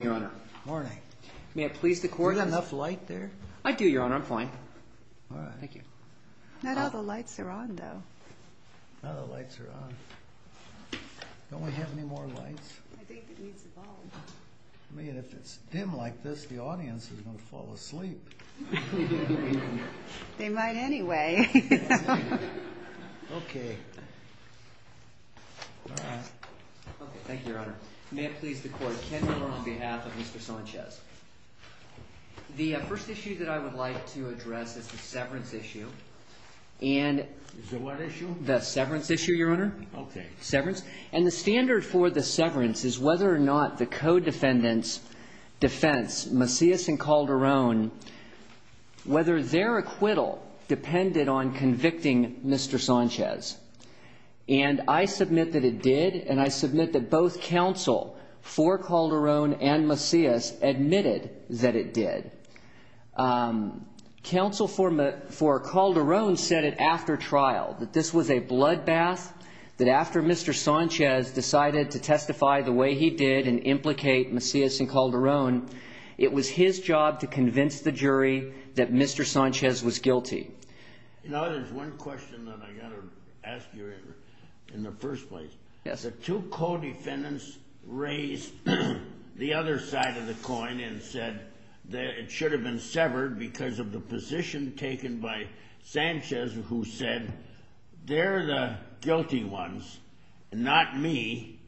Your Honor. Morning. May it please the Court. Is there enough light there? I do, Your Honor. I'm fine. Alright. Thank you. Not all the lights are on, though. Not all the lights are on. Don't we have any more lights? I think it needs a bulb. I mean, if it's dim like this, the audience is going to fall asleep. They might anyway. Okay. Thank you, Your Honor. May it please the Court. Ken Miller on behalf of Mr. Sanchez. The first issue that I would like to address is the severance issue. The what issue? The severance issue, Your Honor. Okay. And the standard for the severance is whether or not the co-defendants defense, Macias and Calderon, whether their acquittal depended on convicting Mr. Sanchez. And I submit that it did, and I submit that both counsel for Calderon and Macias admitted that it did. Counsel for Calderon said it after trial, that this was a bloodbath, that after Mr. Sanchez decided to testify the way he did and implicate Macias and Calderon, it was his job to convince the jury that Mr. Sanchez was guilty. You know, there's one question that I got to ask you in the first place. The two co-defendants raised the other side of the coin and said that it should have been severed because of the position taken by Sanchez, who said, they're the guilty ones, not me.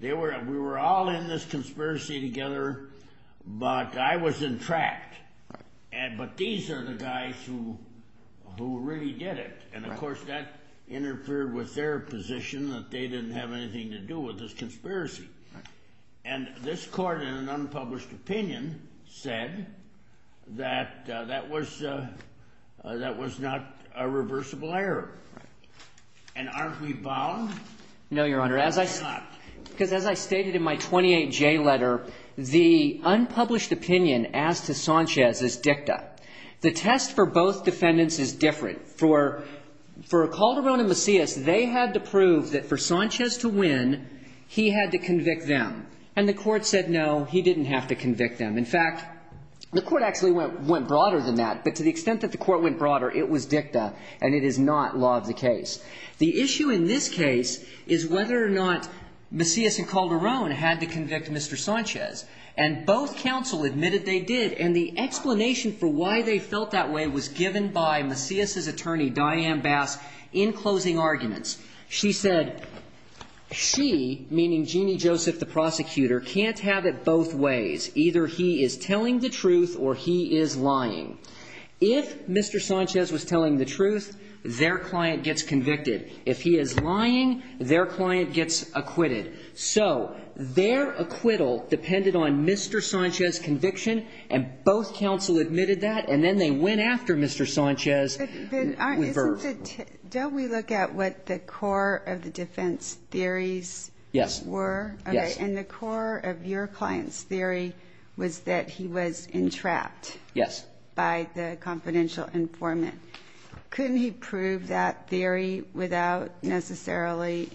We were all in this conspiracy together, but I was in track. But these are the guys who really did it. And, of course, that interfered with their position that they didn't have anything to do with this conspiracy. And this court, in an unpublished opinion, said that that was not a reversible error. And aren't we bound? No, Your Honor. Why not? Because as I stated in my 28J letter, the unpublished opinion as to Sanchez is dicta. The test for both defendants is different. For Calderon and Macias, they had to prove that for Sanchez to win, he had to convict them. And the Court said, no, he didn't have to convict them. In fact, the Court actually went broader than that. But to the extent that the Court went broader, it was dicta, and it is not law of the case. The issue in this case is whether or not Macias and Calderon had to convict Mr. Sanchez. And both counsel admitted they did. And the explanation for why they felt that way was given by Macias' attorney, Diane Bass, in closing arguments. She said, she, meaning Jeannie Joseph, the prosecutor, can't have it both ways. Either he is telling the truth or he is lying. If Mr. Sanchez was telling the truth, their client gets convicted. If he is lying, their client gets acquitted. So their acquittal depended on Mr. Sanchez's conviction, and both counsel admitted that. And then they went after Mr. Sanchez. Isn't it, don't we look at what the core of the defense theories were? Yes. And the core of your client's theory was that he was entrapped. Yes. By the confidential informant. Couldn't he prove that theory without necessarily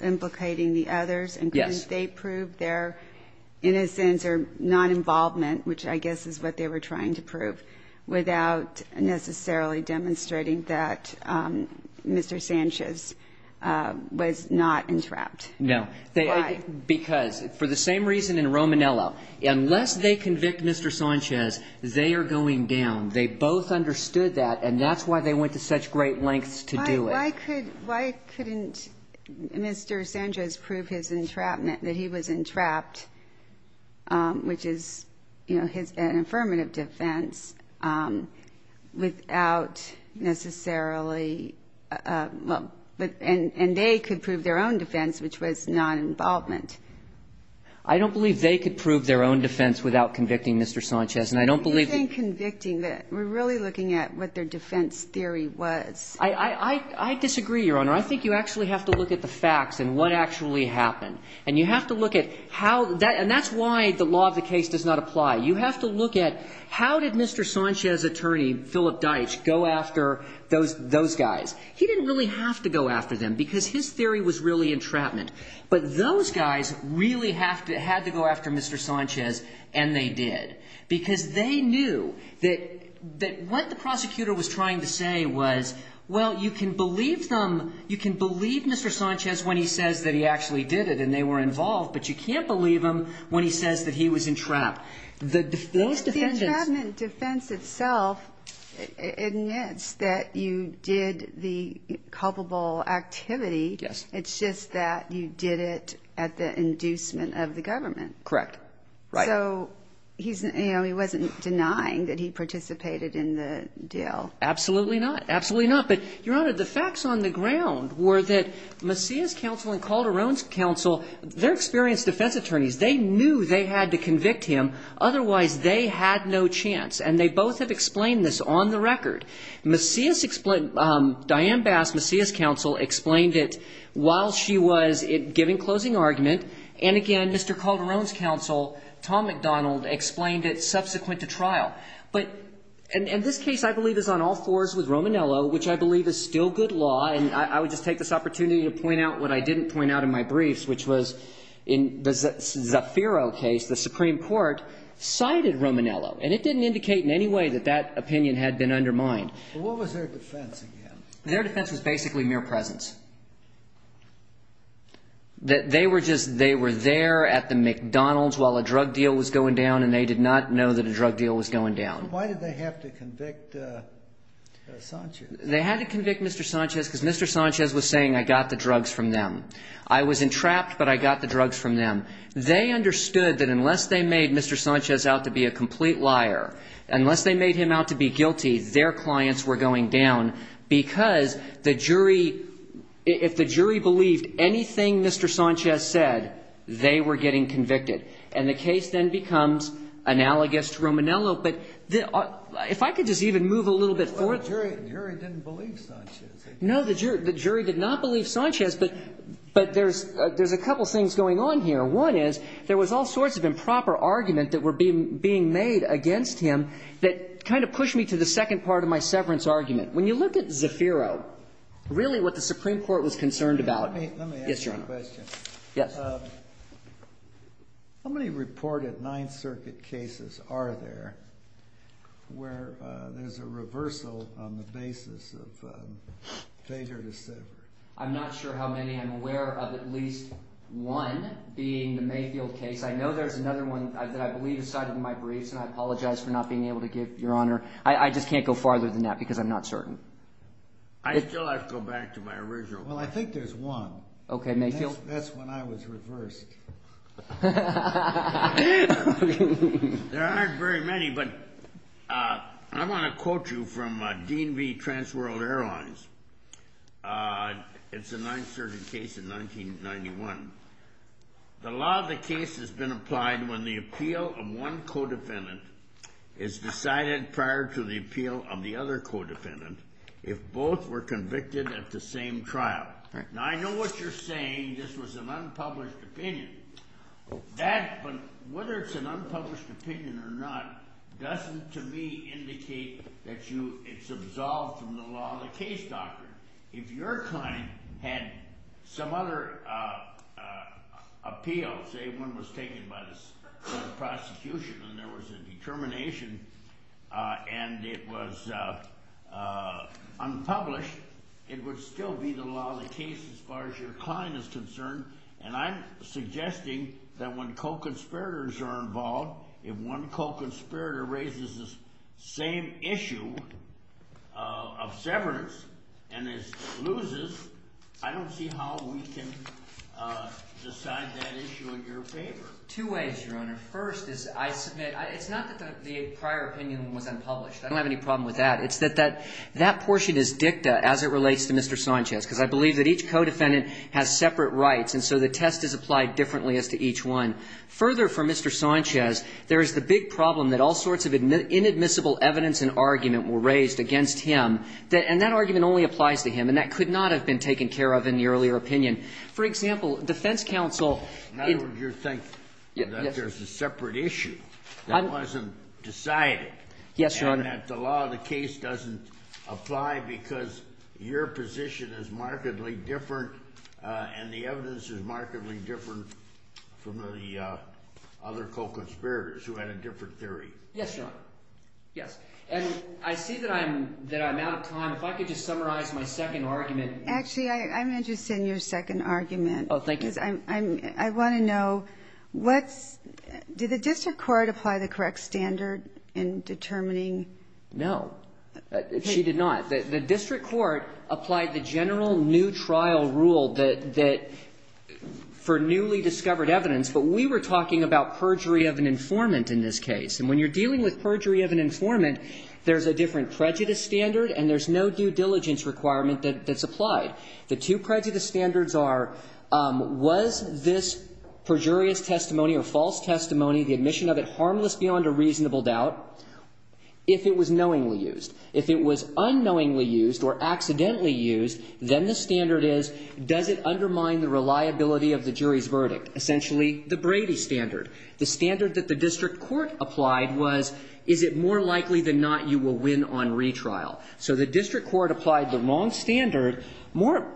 implicating the others? Yes. And couldn't they prove their innocence or non-involvement, which I guess is what they were trying to prove, without necessarily demonstrating that Mr. Sanchez was not entrapped? No. Why? Because, for the same reason in Romanello, unless they convict Mr. Sanchez, they are going down. They both understood that, and that's why they went to such great lengths to do it. Why couldn't Mr. Sanchez prove his entrapment, that he was entrapped, which is, you know, an affirmative defense, without necessarily, and they could prove their own defense, which was non-involvement? I don't believe they could prove their own defense without convicting Mr. Sanchez. And I don't believe that they could prove their own defense without convicting Mr. Sanchez. You think convicting, but we're really looking at what their defense theory was. I disagree, Your Honor. I think you actually have to look at the facts and what actually happened. And you have to look at how the – and that's why the law of the case does not apply. You have to look at how did Mr. Sanchez's attorney, Philip Deitch, go after those guys? He didn't really have to go after them, because his theory was really entrapment. But those guys really had to go after Mr. Sanchez, and they did. Because they knew that what the prosecutor was trying to say was, well, you can believe them, you can believe Mr. Sanchez when he says that he actually did it, and they were involved, but you can't believe him when he says that he was entrapped. Those defendants – Yes. It's just that you did it at the inducement of the government. Correct. Right. So he wasn't denying that he participated in the deal. Absolutely not. Absolutely not. But, Your Honor, the facts on the ground were that Macias' counsel and Calderon's counsel, they're experienced defense attorneys. They knew they had to convict him. Otherwise, they had no chance. And they both have explained this on the record. Macias' – Diane Bass, Macias' counsel, explained it while she was giving closing argument. And, again, Mr. Calderon's counsel, Tom McDonald, explained it subsequent to trial. But – and this case, I believe, is on all fours with Romanello, which I believe is still good law. And I would just take this opportunity to point out what I didn't point out in my briefs, which was in the Zafiro case, the Supreme Court cited Romanello. And it didn't indicate in any way that that opinion had been undermined. But what was their defense, again? Their defense was basically mere presence. They were just – they were there at the McDonald's while a drug deal was going down, and they did not know that a drug deal was going down. Why did they have to convict Sanchez? They had to convict Mr. Sanchez because Mr. Sanchez was saying, I got the drugs from them. I was entrapped, but I got the drugs from them. They understood that unless they made Mr. Sanchez out to be a complete liar, unless they made him out to be guilty, their clients were going down, because the jury – if the jury believed anything Mr. Sanchez said, they were getting convicted. And the case then becomes analogous to Romanello. But if I could just even move a little bit forward. Well, the jury didn't believe Sanchez. No, the jury did not believe Sanchez. But there's a couple things going on here. One is there was all sorts of improper argument that were being made against him that kind of pushed me to the second part of my severance argument. When you look at Zaffiro, really what the Supreme Court was concerned about – yes, Your Honor. Let me ask you a question. Yes. How many reported Ninth Circuit cases are there where there's a reversal on the basis of failure to sever? I'm not sure how many. I'm aware of at least one being the Mayfield case. I know there's another one that I believe is cited in my briefs, and I apologize for not being able to give, Your Honor. I just can't go farther than that because I'm not certain. I still have to go back to my original question. Well, I think there's one. Okay. Mayfield. That's when I was reversed. There aren't very many, but I want to quote you from Dean V. Transworld Airlines. It's a Ninth Circuit case in 1991. The law of the case has been applied when the appeal of one co-defendant is decided prior to the appeal of the other co-defendant if both were convicted at the same trial. Now, I know what you're saying. This was an unpublished opinion. But whether it's an unpublished opinion or not doesn't, to me, indicate that it's absolved from the law of the case, doctor. If your client had some other appeal, say one was taken by the prosecution and there was a determination and it was unpublished, it would still be the law of the case as far as your client is concerned. And I'm suggesting that when co-conspirators are involved, if one co-conspirator raises the same issue of severance and it loses, I don't see how we can decide that issue in your favor. Two ways, Your Honor. First is I submit, it's not that the prior opinion was unpublished. I don't have any problem with that. It's that that portion is dicta as it relates to Mr. Sanchez because I believe that each co-defendant has separate rights and so the test is applied differently as to each one. Further, for Mr. Sanchez, there is the big problem that all sorts of inadmissible evidence and argument were raised against him, and that argument only applies to him, and that could not have been taken care of in the earlier opinion. For example, defense counsel in the case of Sanchez. In other words, you think that there's a separate issue that wasn't decided. Yes, Your Honor. And that the law of the case doesn't apply because your position is markedly different from the other co-conspirators who had a different theory. Yes, Your Honor. Yes. And I see that I'm out of time. If I could just summarize my second argument. Actually, I'm interested in your second argument. Oh, thank you. I want to know what's, did the district court apply the correct standard in determining? No. She did not. The district court applied the general new trial rule that, for newly discovered evidence. But we were talking about perjury of an informant in this case. And when you're dealing with perjury of an informant, there's a different prejudice standard and there's no due diligence requirement that's applied. The two prejudice standards are, was this perjurious testimony or false testimony, the admission of it, harmless beyond a reasonable doubt, if it was knowingly used. If it was unknowingly used or accidentally used, then the standard is, does it undermine the reliability of the jury's verdict? Essentially, the Brady standard. The standard that the district court applied was, is it more likely than not you will win on retrial? So the district court applied the wrong standard. More,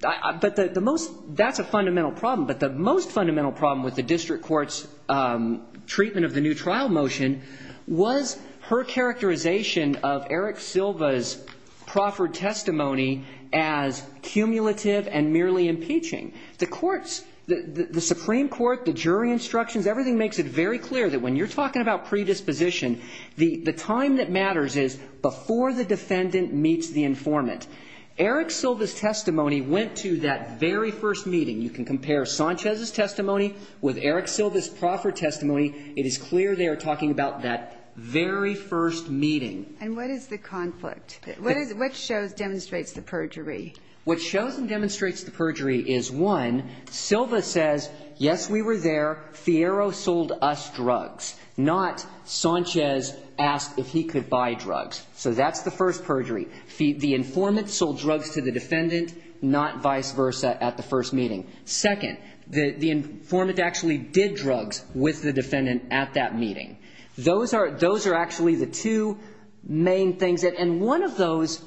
but the most, that's a fundamental problem. But the most fundamental problem with the district court's treatment of the new trial rule is that the district court's treatment of Eric Silva's proffered testimony as cumulative and merely impeaching. The courts, the Supreme Court, the jury instructions, everything makes it very clear that when you're talking about predisposition, the time that matters is before the defendant meets the informant. Eric Silva's testimony went to that very first meeting. You can compare Sanchez's testimony with Eric Silva's proffered testimony. It is clear they are talking about that very first meeting. And what is the conflict? What shows, demonstrates the perjury? What shows and demonstrates the perjury is, one, Silva says, yes, we were there. Fiero sold us drugs. Not Sanchez asked if he could buy drugs. So that's the first perjury. The informant sold drugs to the defendant, not vice versa at the first meeting. Second, the informant actually did drugs with the defendant at that meeting. Those are actually the two main things. And one of those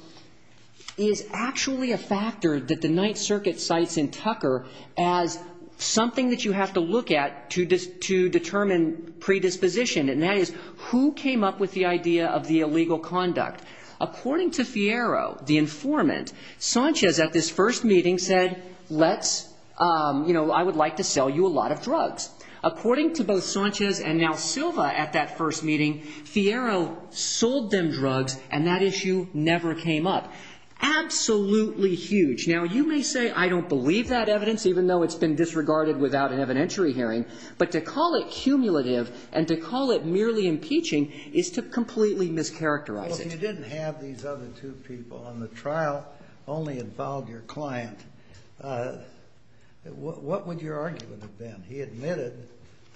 is actually a factor that the Ninth Circuit cites in Tucker as something that you have to look at to determine predisposition. And that is, who came up with the idea of the illegal conduct? According to Fiero, the informant, Sanchez at this first meeting said, let's, you know, I would like to sell you a lot of drugs. According to both Sanchez and now Silva at that first meeting, Fiero sold them drugs, and that issue never came up. Absolutely huge. Now, you may say I don't believe that evidence, even though it's been disregarded without an evidentiary hearing. But to call it cumulative and to call it merely impeaching is to completely mischaracterize it. But if you didn't have these other two people and the trial only involved your client, what would your argument have been? He admitted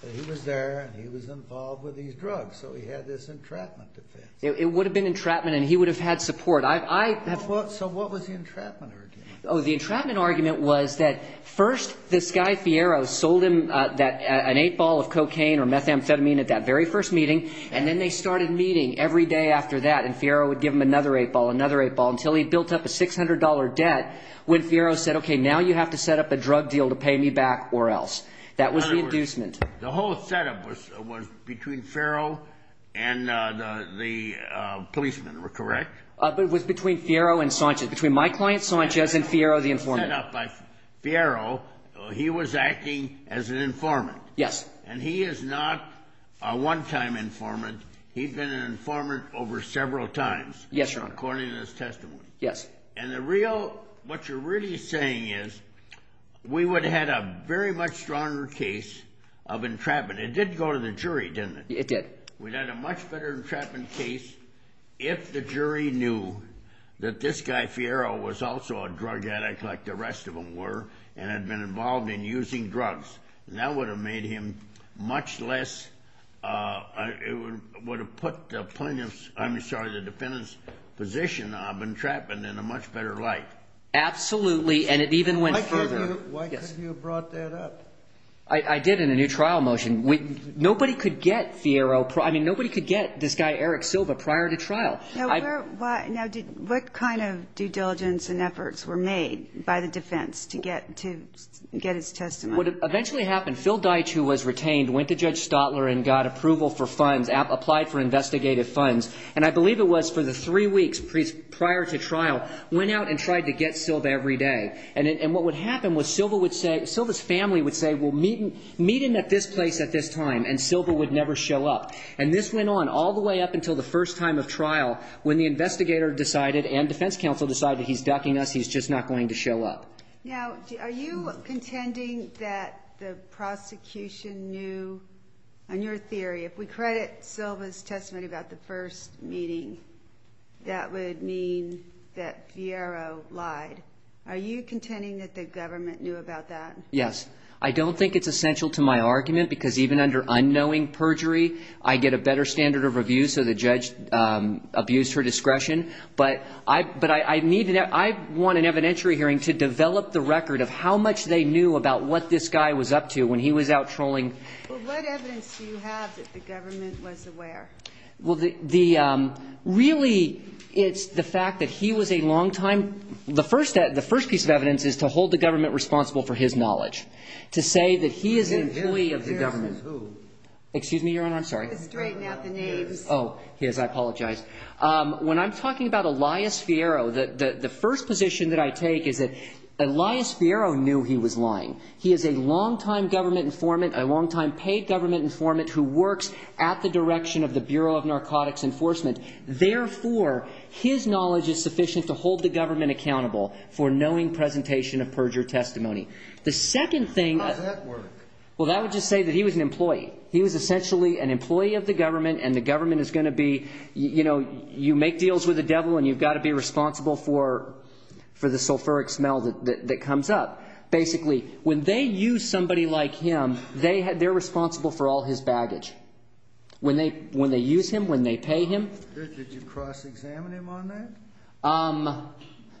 that he was there and he was involved with these drugs, so he had this entrapment defense. It would have been entrapment and he would have had support. I have to be clear. So what was the entrapment argument? Oh, the entrapment argument was that first this guy, Fiero, sold him that an eight ball of cocaine or methamphetamine at that very first meeting, and then they started meeting every day after that, and Fiero would give him another eight ball, another eight ball, until he built up a $600 debt when Fiero said, okay, now you have to set up a drug deal to pay me back or else. That was the inducement. The whole setup was between Fiero and the policeman, correct? It was between Fiero and Sanchez, between my client Sanchez and Fiero, the informant. By Fiero, he was acting as an informant. Yes. And he is not a one-time informant. He'd been an informant over several times. Yes, Your Honor. According to this testimony. Yes. And the real, what you're really saying is we would have had a very much stronger case of entrapment. It did go to the jury, didn't it? It did. We'd had a much better entrapment case if the jury knew that this guy, Fiero, was also a drug addict like the rest of them were and had been involved in using drugs. And that would have made him much less, it would have put the plaintiff's, I'm sorry, the defendant's position of entrapment in a much better light. Absolutely, and it even went further. Why couldn't you have brought that up? I did in a new trial motion. Nobody could get Fiero, I mean, nobody could get this guy, Eric Silva, prior to trial. Now, what kind of due diligence and efforts were made by the defense to get his testimony? Well, what eventually happened, Phil Deitch, who was retained, went to Judge Stotler and got approval for funds, applied for investigative funds, and I believe it was for the three weeks prior to trial, went out and tried to get Silva every day. And what would happen was Silva would say, Silva's family would say, well, meet him at this place at this time, and Silva would never show up. And this went on all the way up until the first time of trial when the investigator decided and defense counsel decided he's ducking us, he's just not going to show up. Now, are you contending that the prosecution knew, in your theory, if we credit Silva's testimony about the first meeting, that would mean that Fiero lied. Are you contending that the government knew about that? Yes. I don't think it's essential to my argument, because even under unknowing perjury, I get a better standard of review, so the judge abused her discretion. But I need to know. I want an evidentiary hearing to develop the record of how much they knew about what this guy was up to when he was out trolling. Well, what evidence do you have that the government was aware? Well, the ‑‑ really, it's the fact that he was a longtime ‑‑ the first piece of evidence is to hold the government responsible for his knowledge, to say that he is an employee of the government. Excuse me, Your Honor, I'm sorry. Straighten out the names. Oh, yes, I apologize. When I'm talking about Elias Fiero, the first position that I take is that Elias Fiero knew he was lying. He is a longtime government informant, a longtime paid government informant who works at the direction of the Bureau of Narcotics Enforcement. Therefore, his knowledge is sufficient to hold the government accountable for knowing presentation of perjury testimony. The second thing ‑‑ How does that work? Well, that would just say that he was an employee. He was essentially an employee of the government, and the government is going to be ‑‑ you know, you make deals with the devil and you've got to be responsible for the sulfuric smell that comes up. Basically, when they use somebody like him, they're responsible for all his baggage. When they use him, when they pay him. Did you cross‑examine him on that?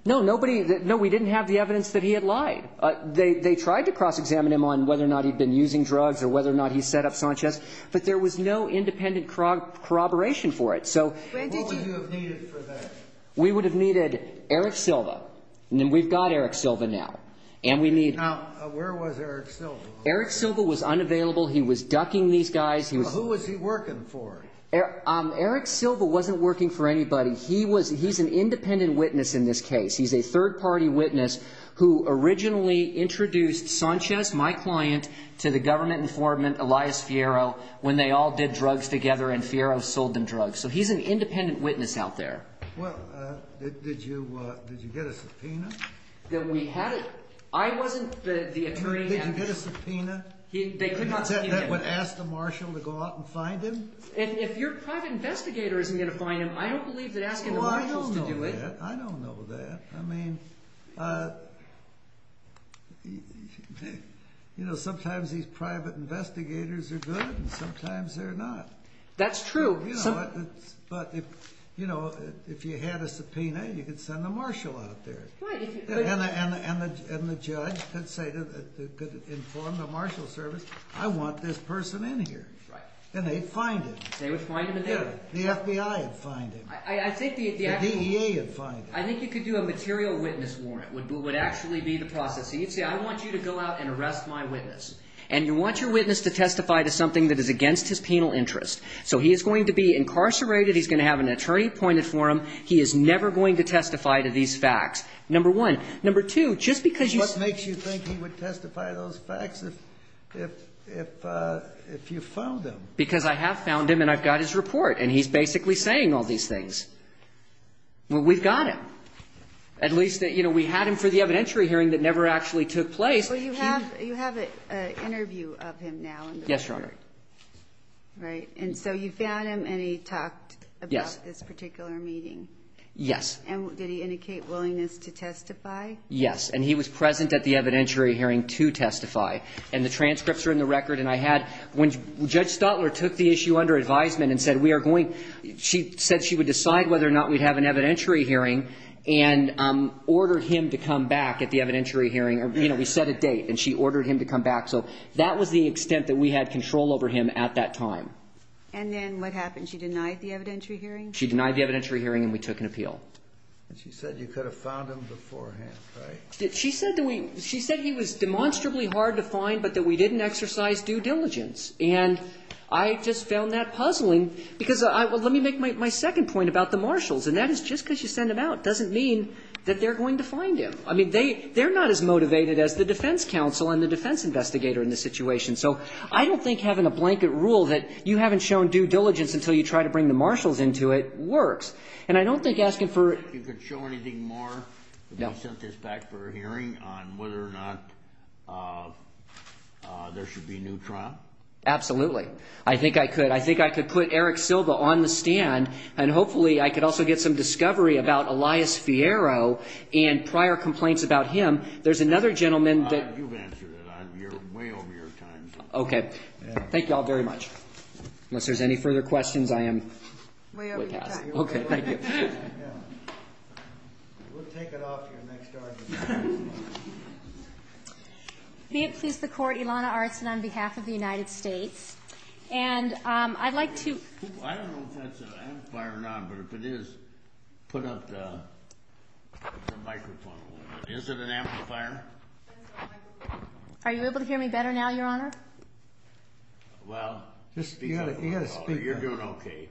No, nobody ‑‑ no, we didn't have the evidence that he had lied. They tried to cross‑examine him on whether or not he had been using drugs or whether or not he set up Sanchez. But there was no independent corroboration for it. So ‑‑ What would you have needed for that? We would have needed Eric Silva. We've got Eric Silva now. And we need ‑‑ Now, where was Eric Silva? Eric Silva was unavailable. He was ducking these guys. Who was he working for? Eric Silva wasn't working for anybody. He was ‑‑ he's an independent witness in this case. He's a third‑party witness who originally introduced Sanchez, my client, to the government informant, Elias Fierro, when they all did drugs together and Fierro sold them drugs. So he's an independent witness out there. Well, did you get a subpoena? That we had ‑‑ I wasn't the attorney. Did you get a subpoena? They could not subpoena. That would ask the marshal to go out and find him? If your private investigator isn't going to find him, I don't believe that asking the marshal to do it. Well, I don't know that. I don't know that. I mean, you know, sometimes these private investigators are good and sometimes they're not. That's true. But, you know, if you had a subpoena, you could send the marshal out there. Right. And the judge could say, could inform the marshal service, I want this person in here. Right. And they'd find him. They would find him in there. Yeah. The FBI would find him. I think the actual ‑‑ The DEA would find him. I think you could do a material witness warrant would actually be the process. So you'd say, I want you to go out and arrest my witness. And you want your witness to testify to something that is against his penal interest. So he is going to be incarcerated. He's going to have an attorney appointed for him. He is never going to testify to these facts. Number one. Number two, just because you ‑‑ What makes you think he would testify to those facts if you found him? Because I have found him and I've got his report. And he's basically saying all these things. Well, we've got him. At least, you know, we had him for the evidentiary hearing that never actually took place. Well, you have an interview of him now. Yes, Your Honor. Right. And so you found him and he talked about this particular meeting. Yes. And did he indicate willingness to testify? Yes. And he was present at the evidentiary hearing to testify. And the transcripts are in the record. And I had ‑‑ when Judge Stotler took the issue under advisement and said we are going to decide whether or not we have an evidentiary hearing and ordered him to come back at the evidentiary hearing. You know, we set a date and she ordered him to come back. So that was the extent that we had control over him at that time. And then what happened? She denied the evidentiary hearing? She denied the evidentiary hearing and we took an appeal. And she said you could have found him beforehand, right? She said that we ‑‑ she said he was demonstrably hard to find but that we didn't exercise due diligence. And I just found that puzzling because let me make my second point about the marshals. And that is just because you send them out doesn't mean that they're going to find him. I mean, they're not as motivated as the defense counsel and the defense investigator in this situation. So I don't think having a blanket rule that you haven't shown due diligence until you try to bring the marshals into it works. And I don't think asking for ‑‑ You could show anything more? No. Absolutely. I think I could. I think I could put Eric Silva on the stand and hopefully I could also get some discovery about Elias Fierro and prior complaints about him. There's another gentleman that ‑‑ You've answered it. You're way over your time. Okay. Thank you all very much. Unless there's any further questions, I am ‑‑ Way over your time. Okay. Thank you. We'll take it off to your next argument. May it please the Court, Ilana Arsen on behalf of the United States. And I'd like to ‑‑ I don't know if that's an amplifier or not. But if it is, put up the microphone a little bit. Is it an amplifier? Are you able to hear me better now, Your Honor? Well, just speak up a little bit. You're doing okay.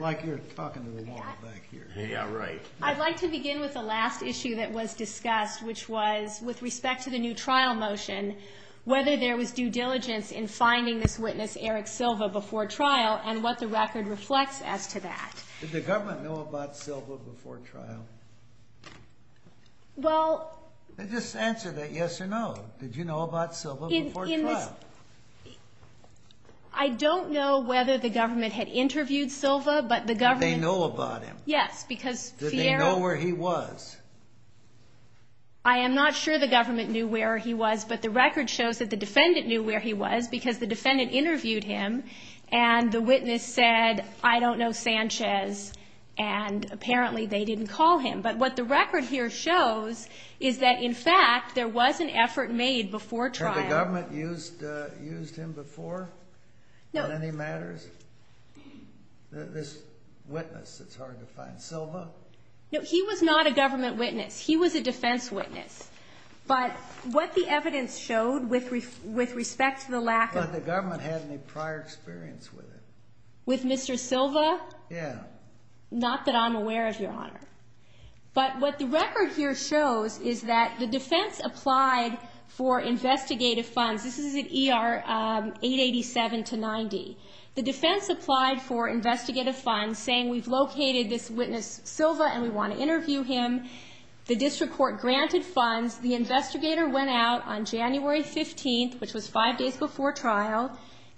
Like you're talking to the wall back here. Yeah, right. I'd like to begin with the last issue that was discussed, which was with respect to the new trial motion, whether there was due diligence in finding this witness, Eric Silva, before trial and what the record reflects as to that. Did the government know about Silva before trial? Well ‑‑ Just answer that yes or no. Did you know about Silva before trial? I don't know whether the government had interviewed Silva, but the government ‑‑ Did they know about him? Yes, because Fierro ‑‑ Did they know where he was? I am not sure the government knew where he was, but the record shows that the defendant knew where he was because the defendant interviewed him and the witness said, I don't know Sanchez, and apparently they didn't call him. But what the record here shows is that, in fact, there was an effort made before trial. Had the government used him before on any matters? This witness that's hard to find, Silva? No, he was not a government witness. He was a defense witness. But what the evidence showed with respect to the lack of ‑‑ But the government had any prior experience with him. With Mr. Silva? Yeah. Not that I'm aware of, Your Honor. But what the record here shows is that the defense applied for investigative funds. This is at ER 887 to 90. The defense applied for investigative funds, saying we've located this witness, Silva, and we want to interview him. The district court granted funds. The investigator went out on January 15th, which was five days before trial,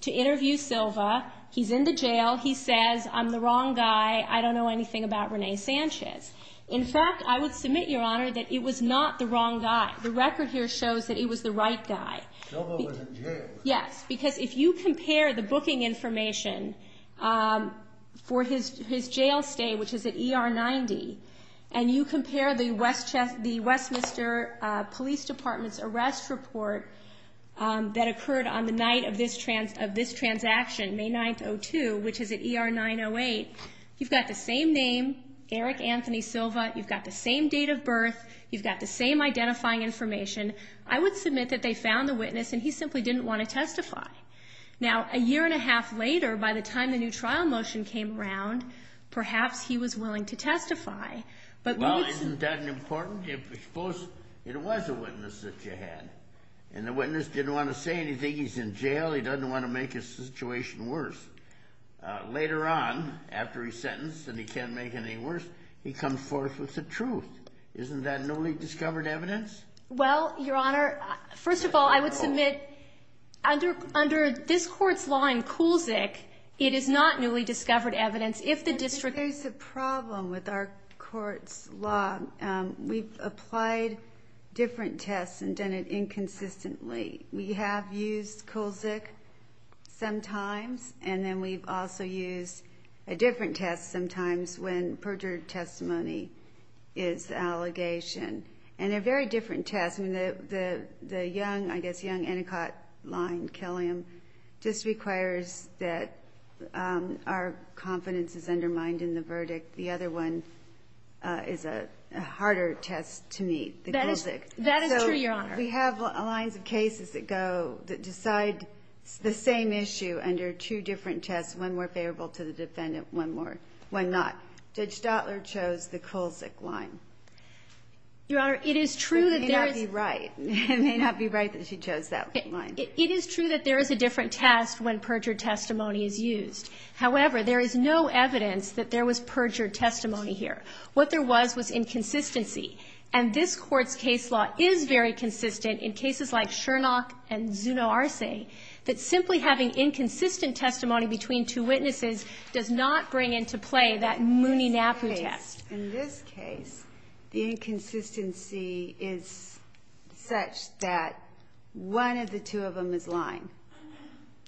to interview Silva. He's in the jail. He says, I'm the wrong guy. I don't know anything about Rene Sanchez. In fact, I would submit, Your Honor, that it was not the wrong guy. The record here shows that it was the right guy. Silva was in jail. Yes, because if you compare the booking information for his jail stay, which is at ER 90, and you compare the Westminster Police Department's arrest report that occurred on the night of this transaction, May 9th, 2002, which is at ER 908, you've got the same name, Eric Anthony Silva. You've got the same date of birth. You've got the same identifying information. I would submit that they found the witness, and he simply didn't want to testify. Now, a year and a half later, by the time the new trial motion came around, perhaps he was willing to testify. Well, isn't that important? Suppose it was a witness that you had, and the witness didn't want to say anything. He's in jail. He doesn't want to make his situation worse. Later on, after he's sentenced and he can't make anything worse, he comes forth with the truth. Isn't that newly discovered evidence? Well, Your Honor, first of all, I would submit under this court's law in Kulzik, it is not newly discovered evidence. If the district ---- There's a problem with our court's law. We've applied different tests and done it inconsistently. We have used Kulzik sometimes, and then we've also used a different test sometimes when perjured testimony is the allegation. And they're very different tests. I mean, the young, I guess young, Endicott line, Killiam, just requires that our confidence is undermined in the verdict. The other one is a harder test to meet, the Kulzik. That is true, Your Honor. We have lines of cases that go, that decide the same issue under two different tests, one more favorable to the defendant, one not. Judge Stotler chose the Kulzik line. Your Honor, it is true that there is ---- It may not be right. It may not be right that she chose that line. It is true that there is a different test when perjured testimony is used. However, there is no evidence that there was perjured testimony here. What there was was inconsistency. And this Court's case law is very consistent in cases like Shurnock and Zuno Arce that simply having inconsistent testimony between two witnesses does not bring into play that Mooney-Napu test. In this case, the inconsistency is such that one of the two of them is lying,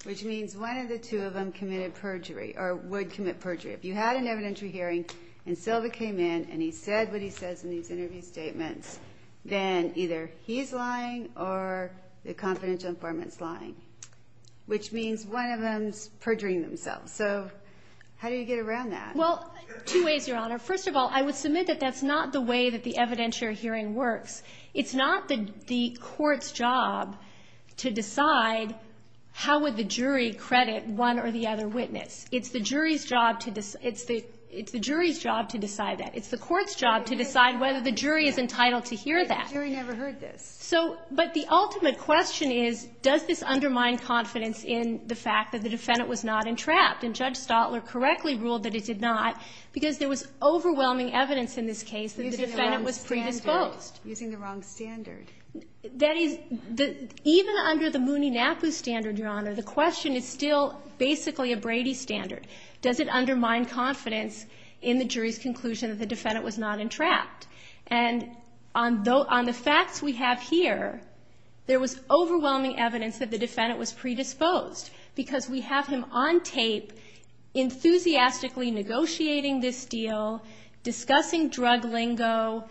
which means one of the two of them committed perjury or would commit perjury. If you had an evidentiary hearing and Silva came in and he said what he says in these interview statements, then either he's lying or the confidential informant's lying, which means one of them's perjuring themselves. So how do you get around that? Well, two ways, Your Honor. First of all, I would submit that that's not the way that the evidentiary hearing works. It's not the Court's job to decide how would the jury credit one or the other witness. It's the jury's job to decide that. It's the Court's job to decide whether the jury is entitled to hear that. The jury never heard this. But the ultimate question is, does this undermine confidence in the fact that the defendant was not entrapped? And Judge Stotler correctly ruled that it did not because there was overwhelming evidence in this case that the defendant was predisposed. Using the wrong standard. That is, even under the Mooney-Napu standard, Your Honor, the question is still basically a Brady standard. Does it undermine confidence in the jury's conclusion that the defendant was not entrapped? And on the facts we have here, there was overwhelming evidence that the defendant was predisposed because we have him on tape enthusiastically negotiating this deal, discussing drug lingo,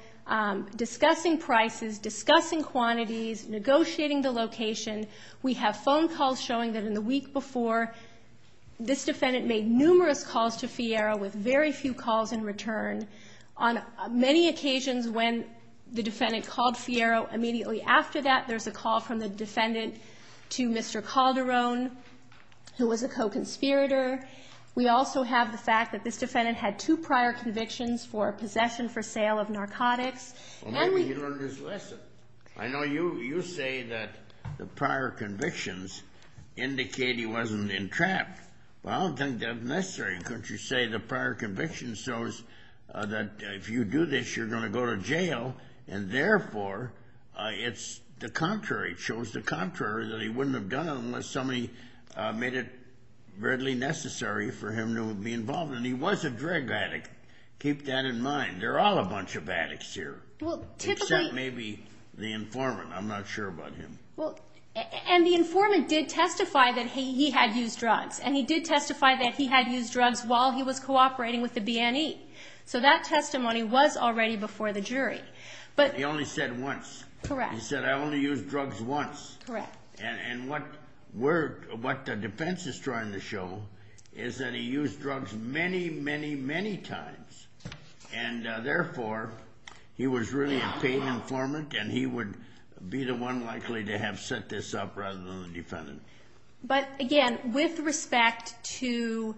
discussing prices, discussing quantities, negotiating the location. We have phone calls showing that in the week before, this defendant made numerous calls to Fierro with very few calls in return. On many occasions when the defendant called Fierro, immediately after that there's a call from the defendant to Mr. Calderon, who was a co-conspirator. We also have the fact that this defendant had two prior convictions for possession for sale of narcotics. Well, maybe he learned his lesson. I know you say that the prior convictions indicate he wasn't entrapped. Well, I don't think that's necessary. Couldn't you say the prior conviction shows that if you do this, you're going to go to jail and therefore it's the contrary. It shows the contrary, that he wouldn't have done it unless somebody made it readily necessary for him to be involved. And he was a drug addict. Keep that in mind. They're all a bunch of addicts here, except maybe the informant. I'm not sure about him. And the informant did testify that he had used drugs, and he did testify that he had used drugs while he was cooperating with the BNE. So that testimony was already before the jury. But he only said once. Correct. He said, I only used drugs once. Correct. And what the defense is trying to show is that he used drugs many, many, many times. And therefore, he was really a paid informant, and he would be the one likely to have set this up rather than the defendant. But, again, with respect to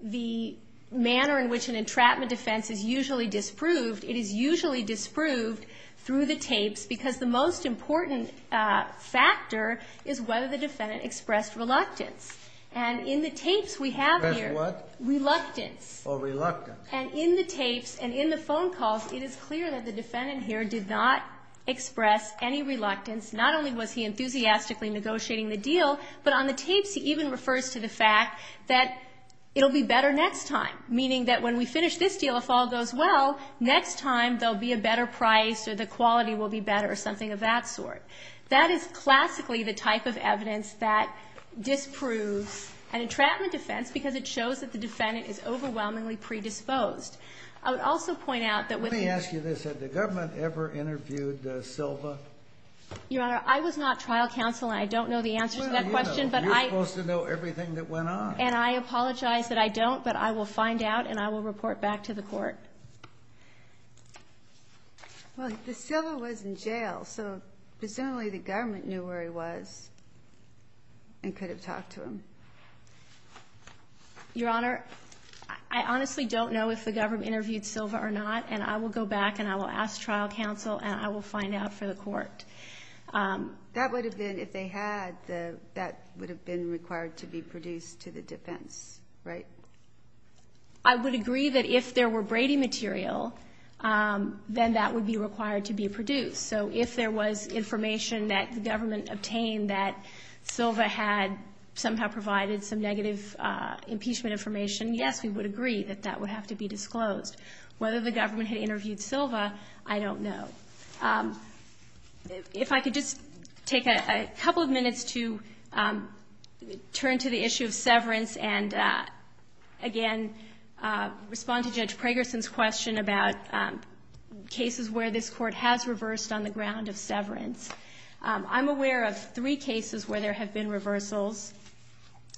the manner in which an entrapment defense is usually disproved, it is usually disproved through the tapes because the most important factor is whether the defendant expressed reluctance. And in the tapes we have here, reluctance. Or reluctance. And in the tapes and in the phone calls, it is clear that the defendant here did not express any reluctance. Not only was he enthusiastically negotiating the deal, but on the tapes he even refers to the fact that it will be better next time, meaning that when we finish this deal, if all goes well, next time there will be a better price or the quality will be better or something of that sort. That is classically the type of evidence that disproves an entrapment defense because it shows that the defendant is overwhelmingly predisposed. I would also point out that with the ---- Let me ask you this. Had the government ever interviewed Silva? Your Honor, I was not trial counsel, and I don't know the answer to that question, but I ---- Well, you know. You're supposed to know everything that went on. And I apologize that I don't, but I will find out, and I will report back to the court. Well, Silva was in jail, so presumably the government knew where he was and could have talked to him. Your Honor, I honestly don't know if the government interviewed Silva or not, and I will go back and I will ask trial counsel, and I will find out for the court. That would have been, if they had, that would have been required to be produced to the defense, right? I would agree that if there were Brady material, then that would be required to be produced. So if there was information that the government obtained that Silva had somehow provided some negative impeachment information, yes, we would agree that that would have to be disclosed. Whether the government had interviewed Silva, I don't know. If I could just take a couple of minutes to turn to the issue of severance and, again, respond to Judge Pragerson's question about cases where this court has reversed on the ground of severance. I'm aware of three cases where there have been reversals.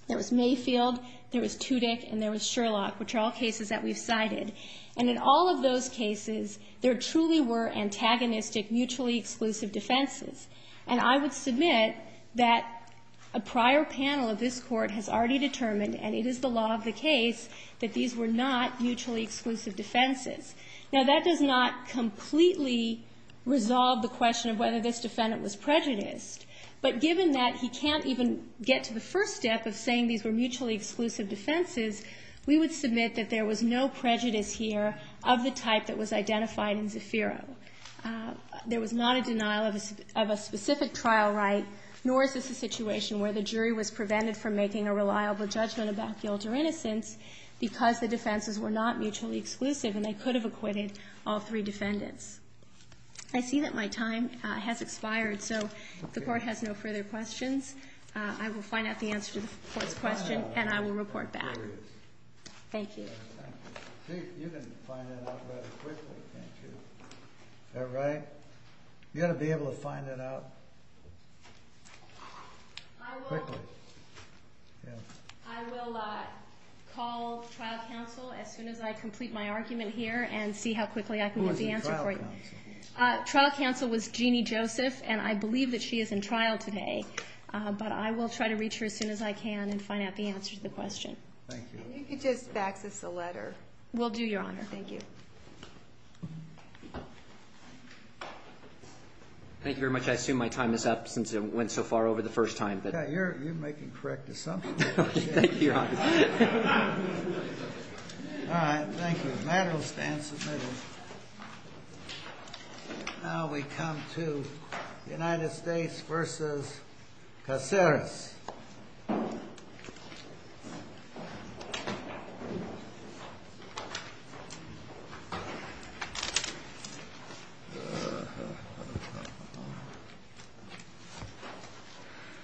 There was Mayfield, there was Tudyk, and there was Sherlock, which are all cases that we've cited. And in all of those cases, there truly were antagonistic, mutually exclusive defenses. And I would submit that a prior panel of this Court has already determined, and it is the law of the case, that these were not mutually exclusive defenses. Now, that does not completely resolve the question of whether this defendant was prejudiced. But given that he can't even get to the first step of saying these were mutually exclusive defenses, we would submit that there was no prejudice here of the type that was identified in Zafiro. There was not a denial of a specific trial right, nor is this a situation where the jury was prevented from making a reliable judgment about guilt or innocence because the defenses were not mutually exclusive and they could have acquitted all three defendants. I see that my time has expired, so the Court has no further questions. I will find out the answer to the Court's question, and I will report back. Thank you. You can find it out rather quickly, can't you? Is that right? You ought to be able to find it out quickly. I will call trial counsel as soon as I complete my argument here and see how quickly I can get the answer for you. Who was in trial counsel? Trial counsel was Jeannie Joseph, and I believe that she is in trial today. But I will try to reach her as soon as I can and find out the answer to the question. Thank you. And you could just fax us a letter. Will do, Your Honor. Thank you. Thank you very much. I assume my time is up since it went so far over the first time. Yeah, you're making correct assumptions. Thank you, Your Honor. All right, thank you. The matter will stand submitted. Now we come to the United States v. Caceres.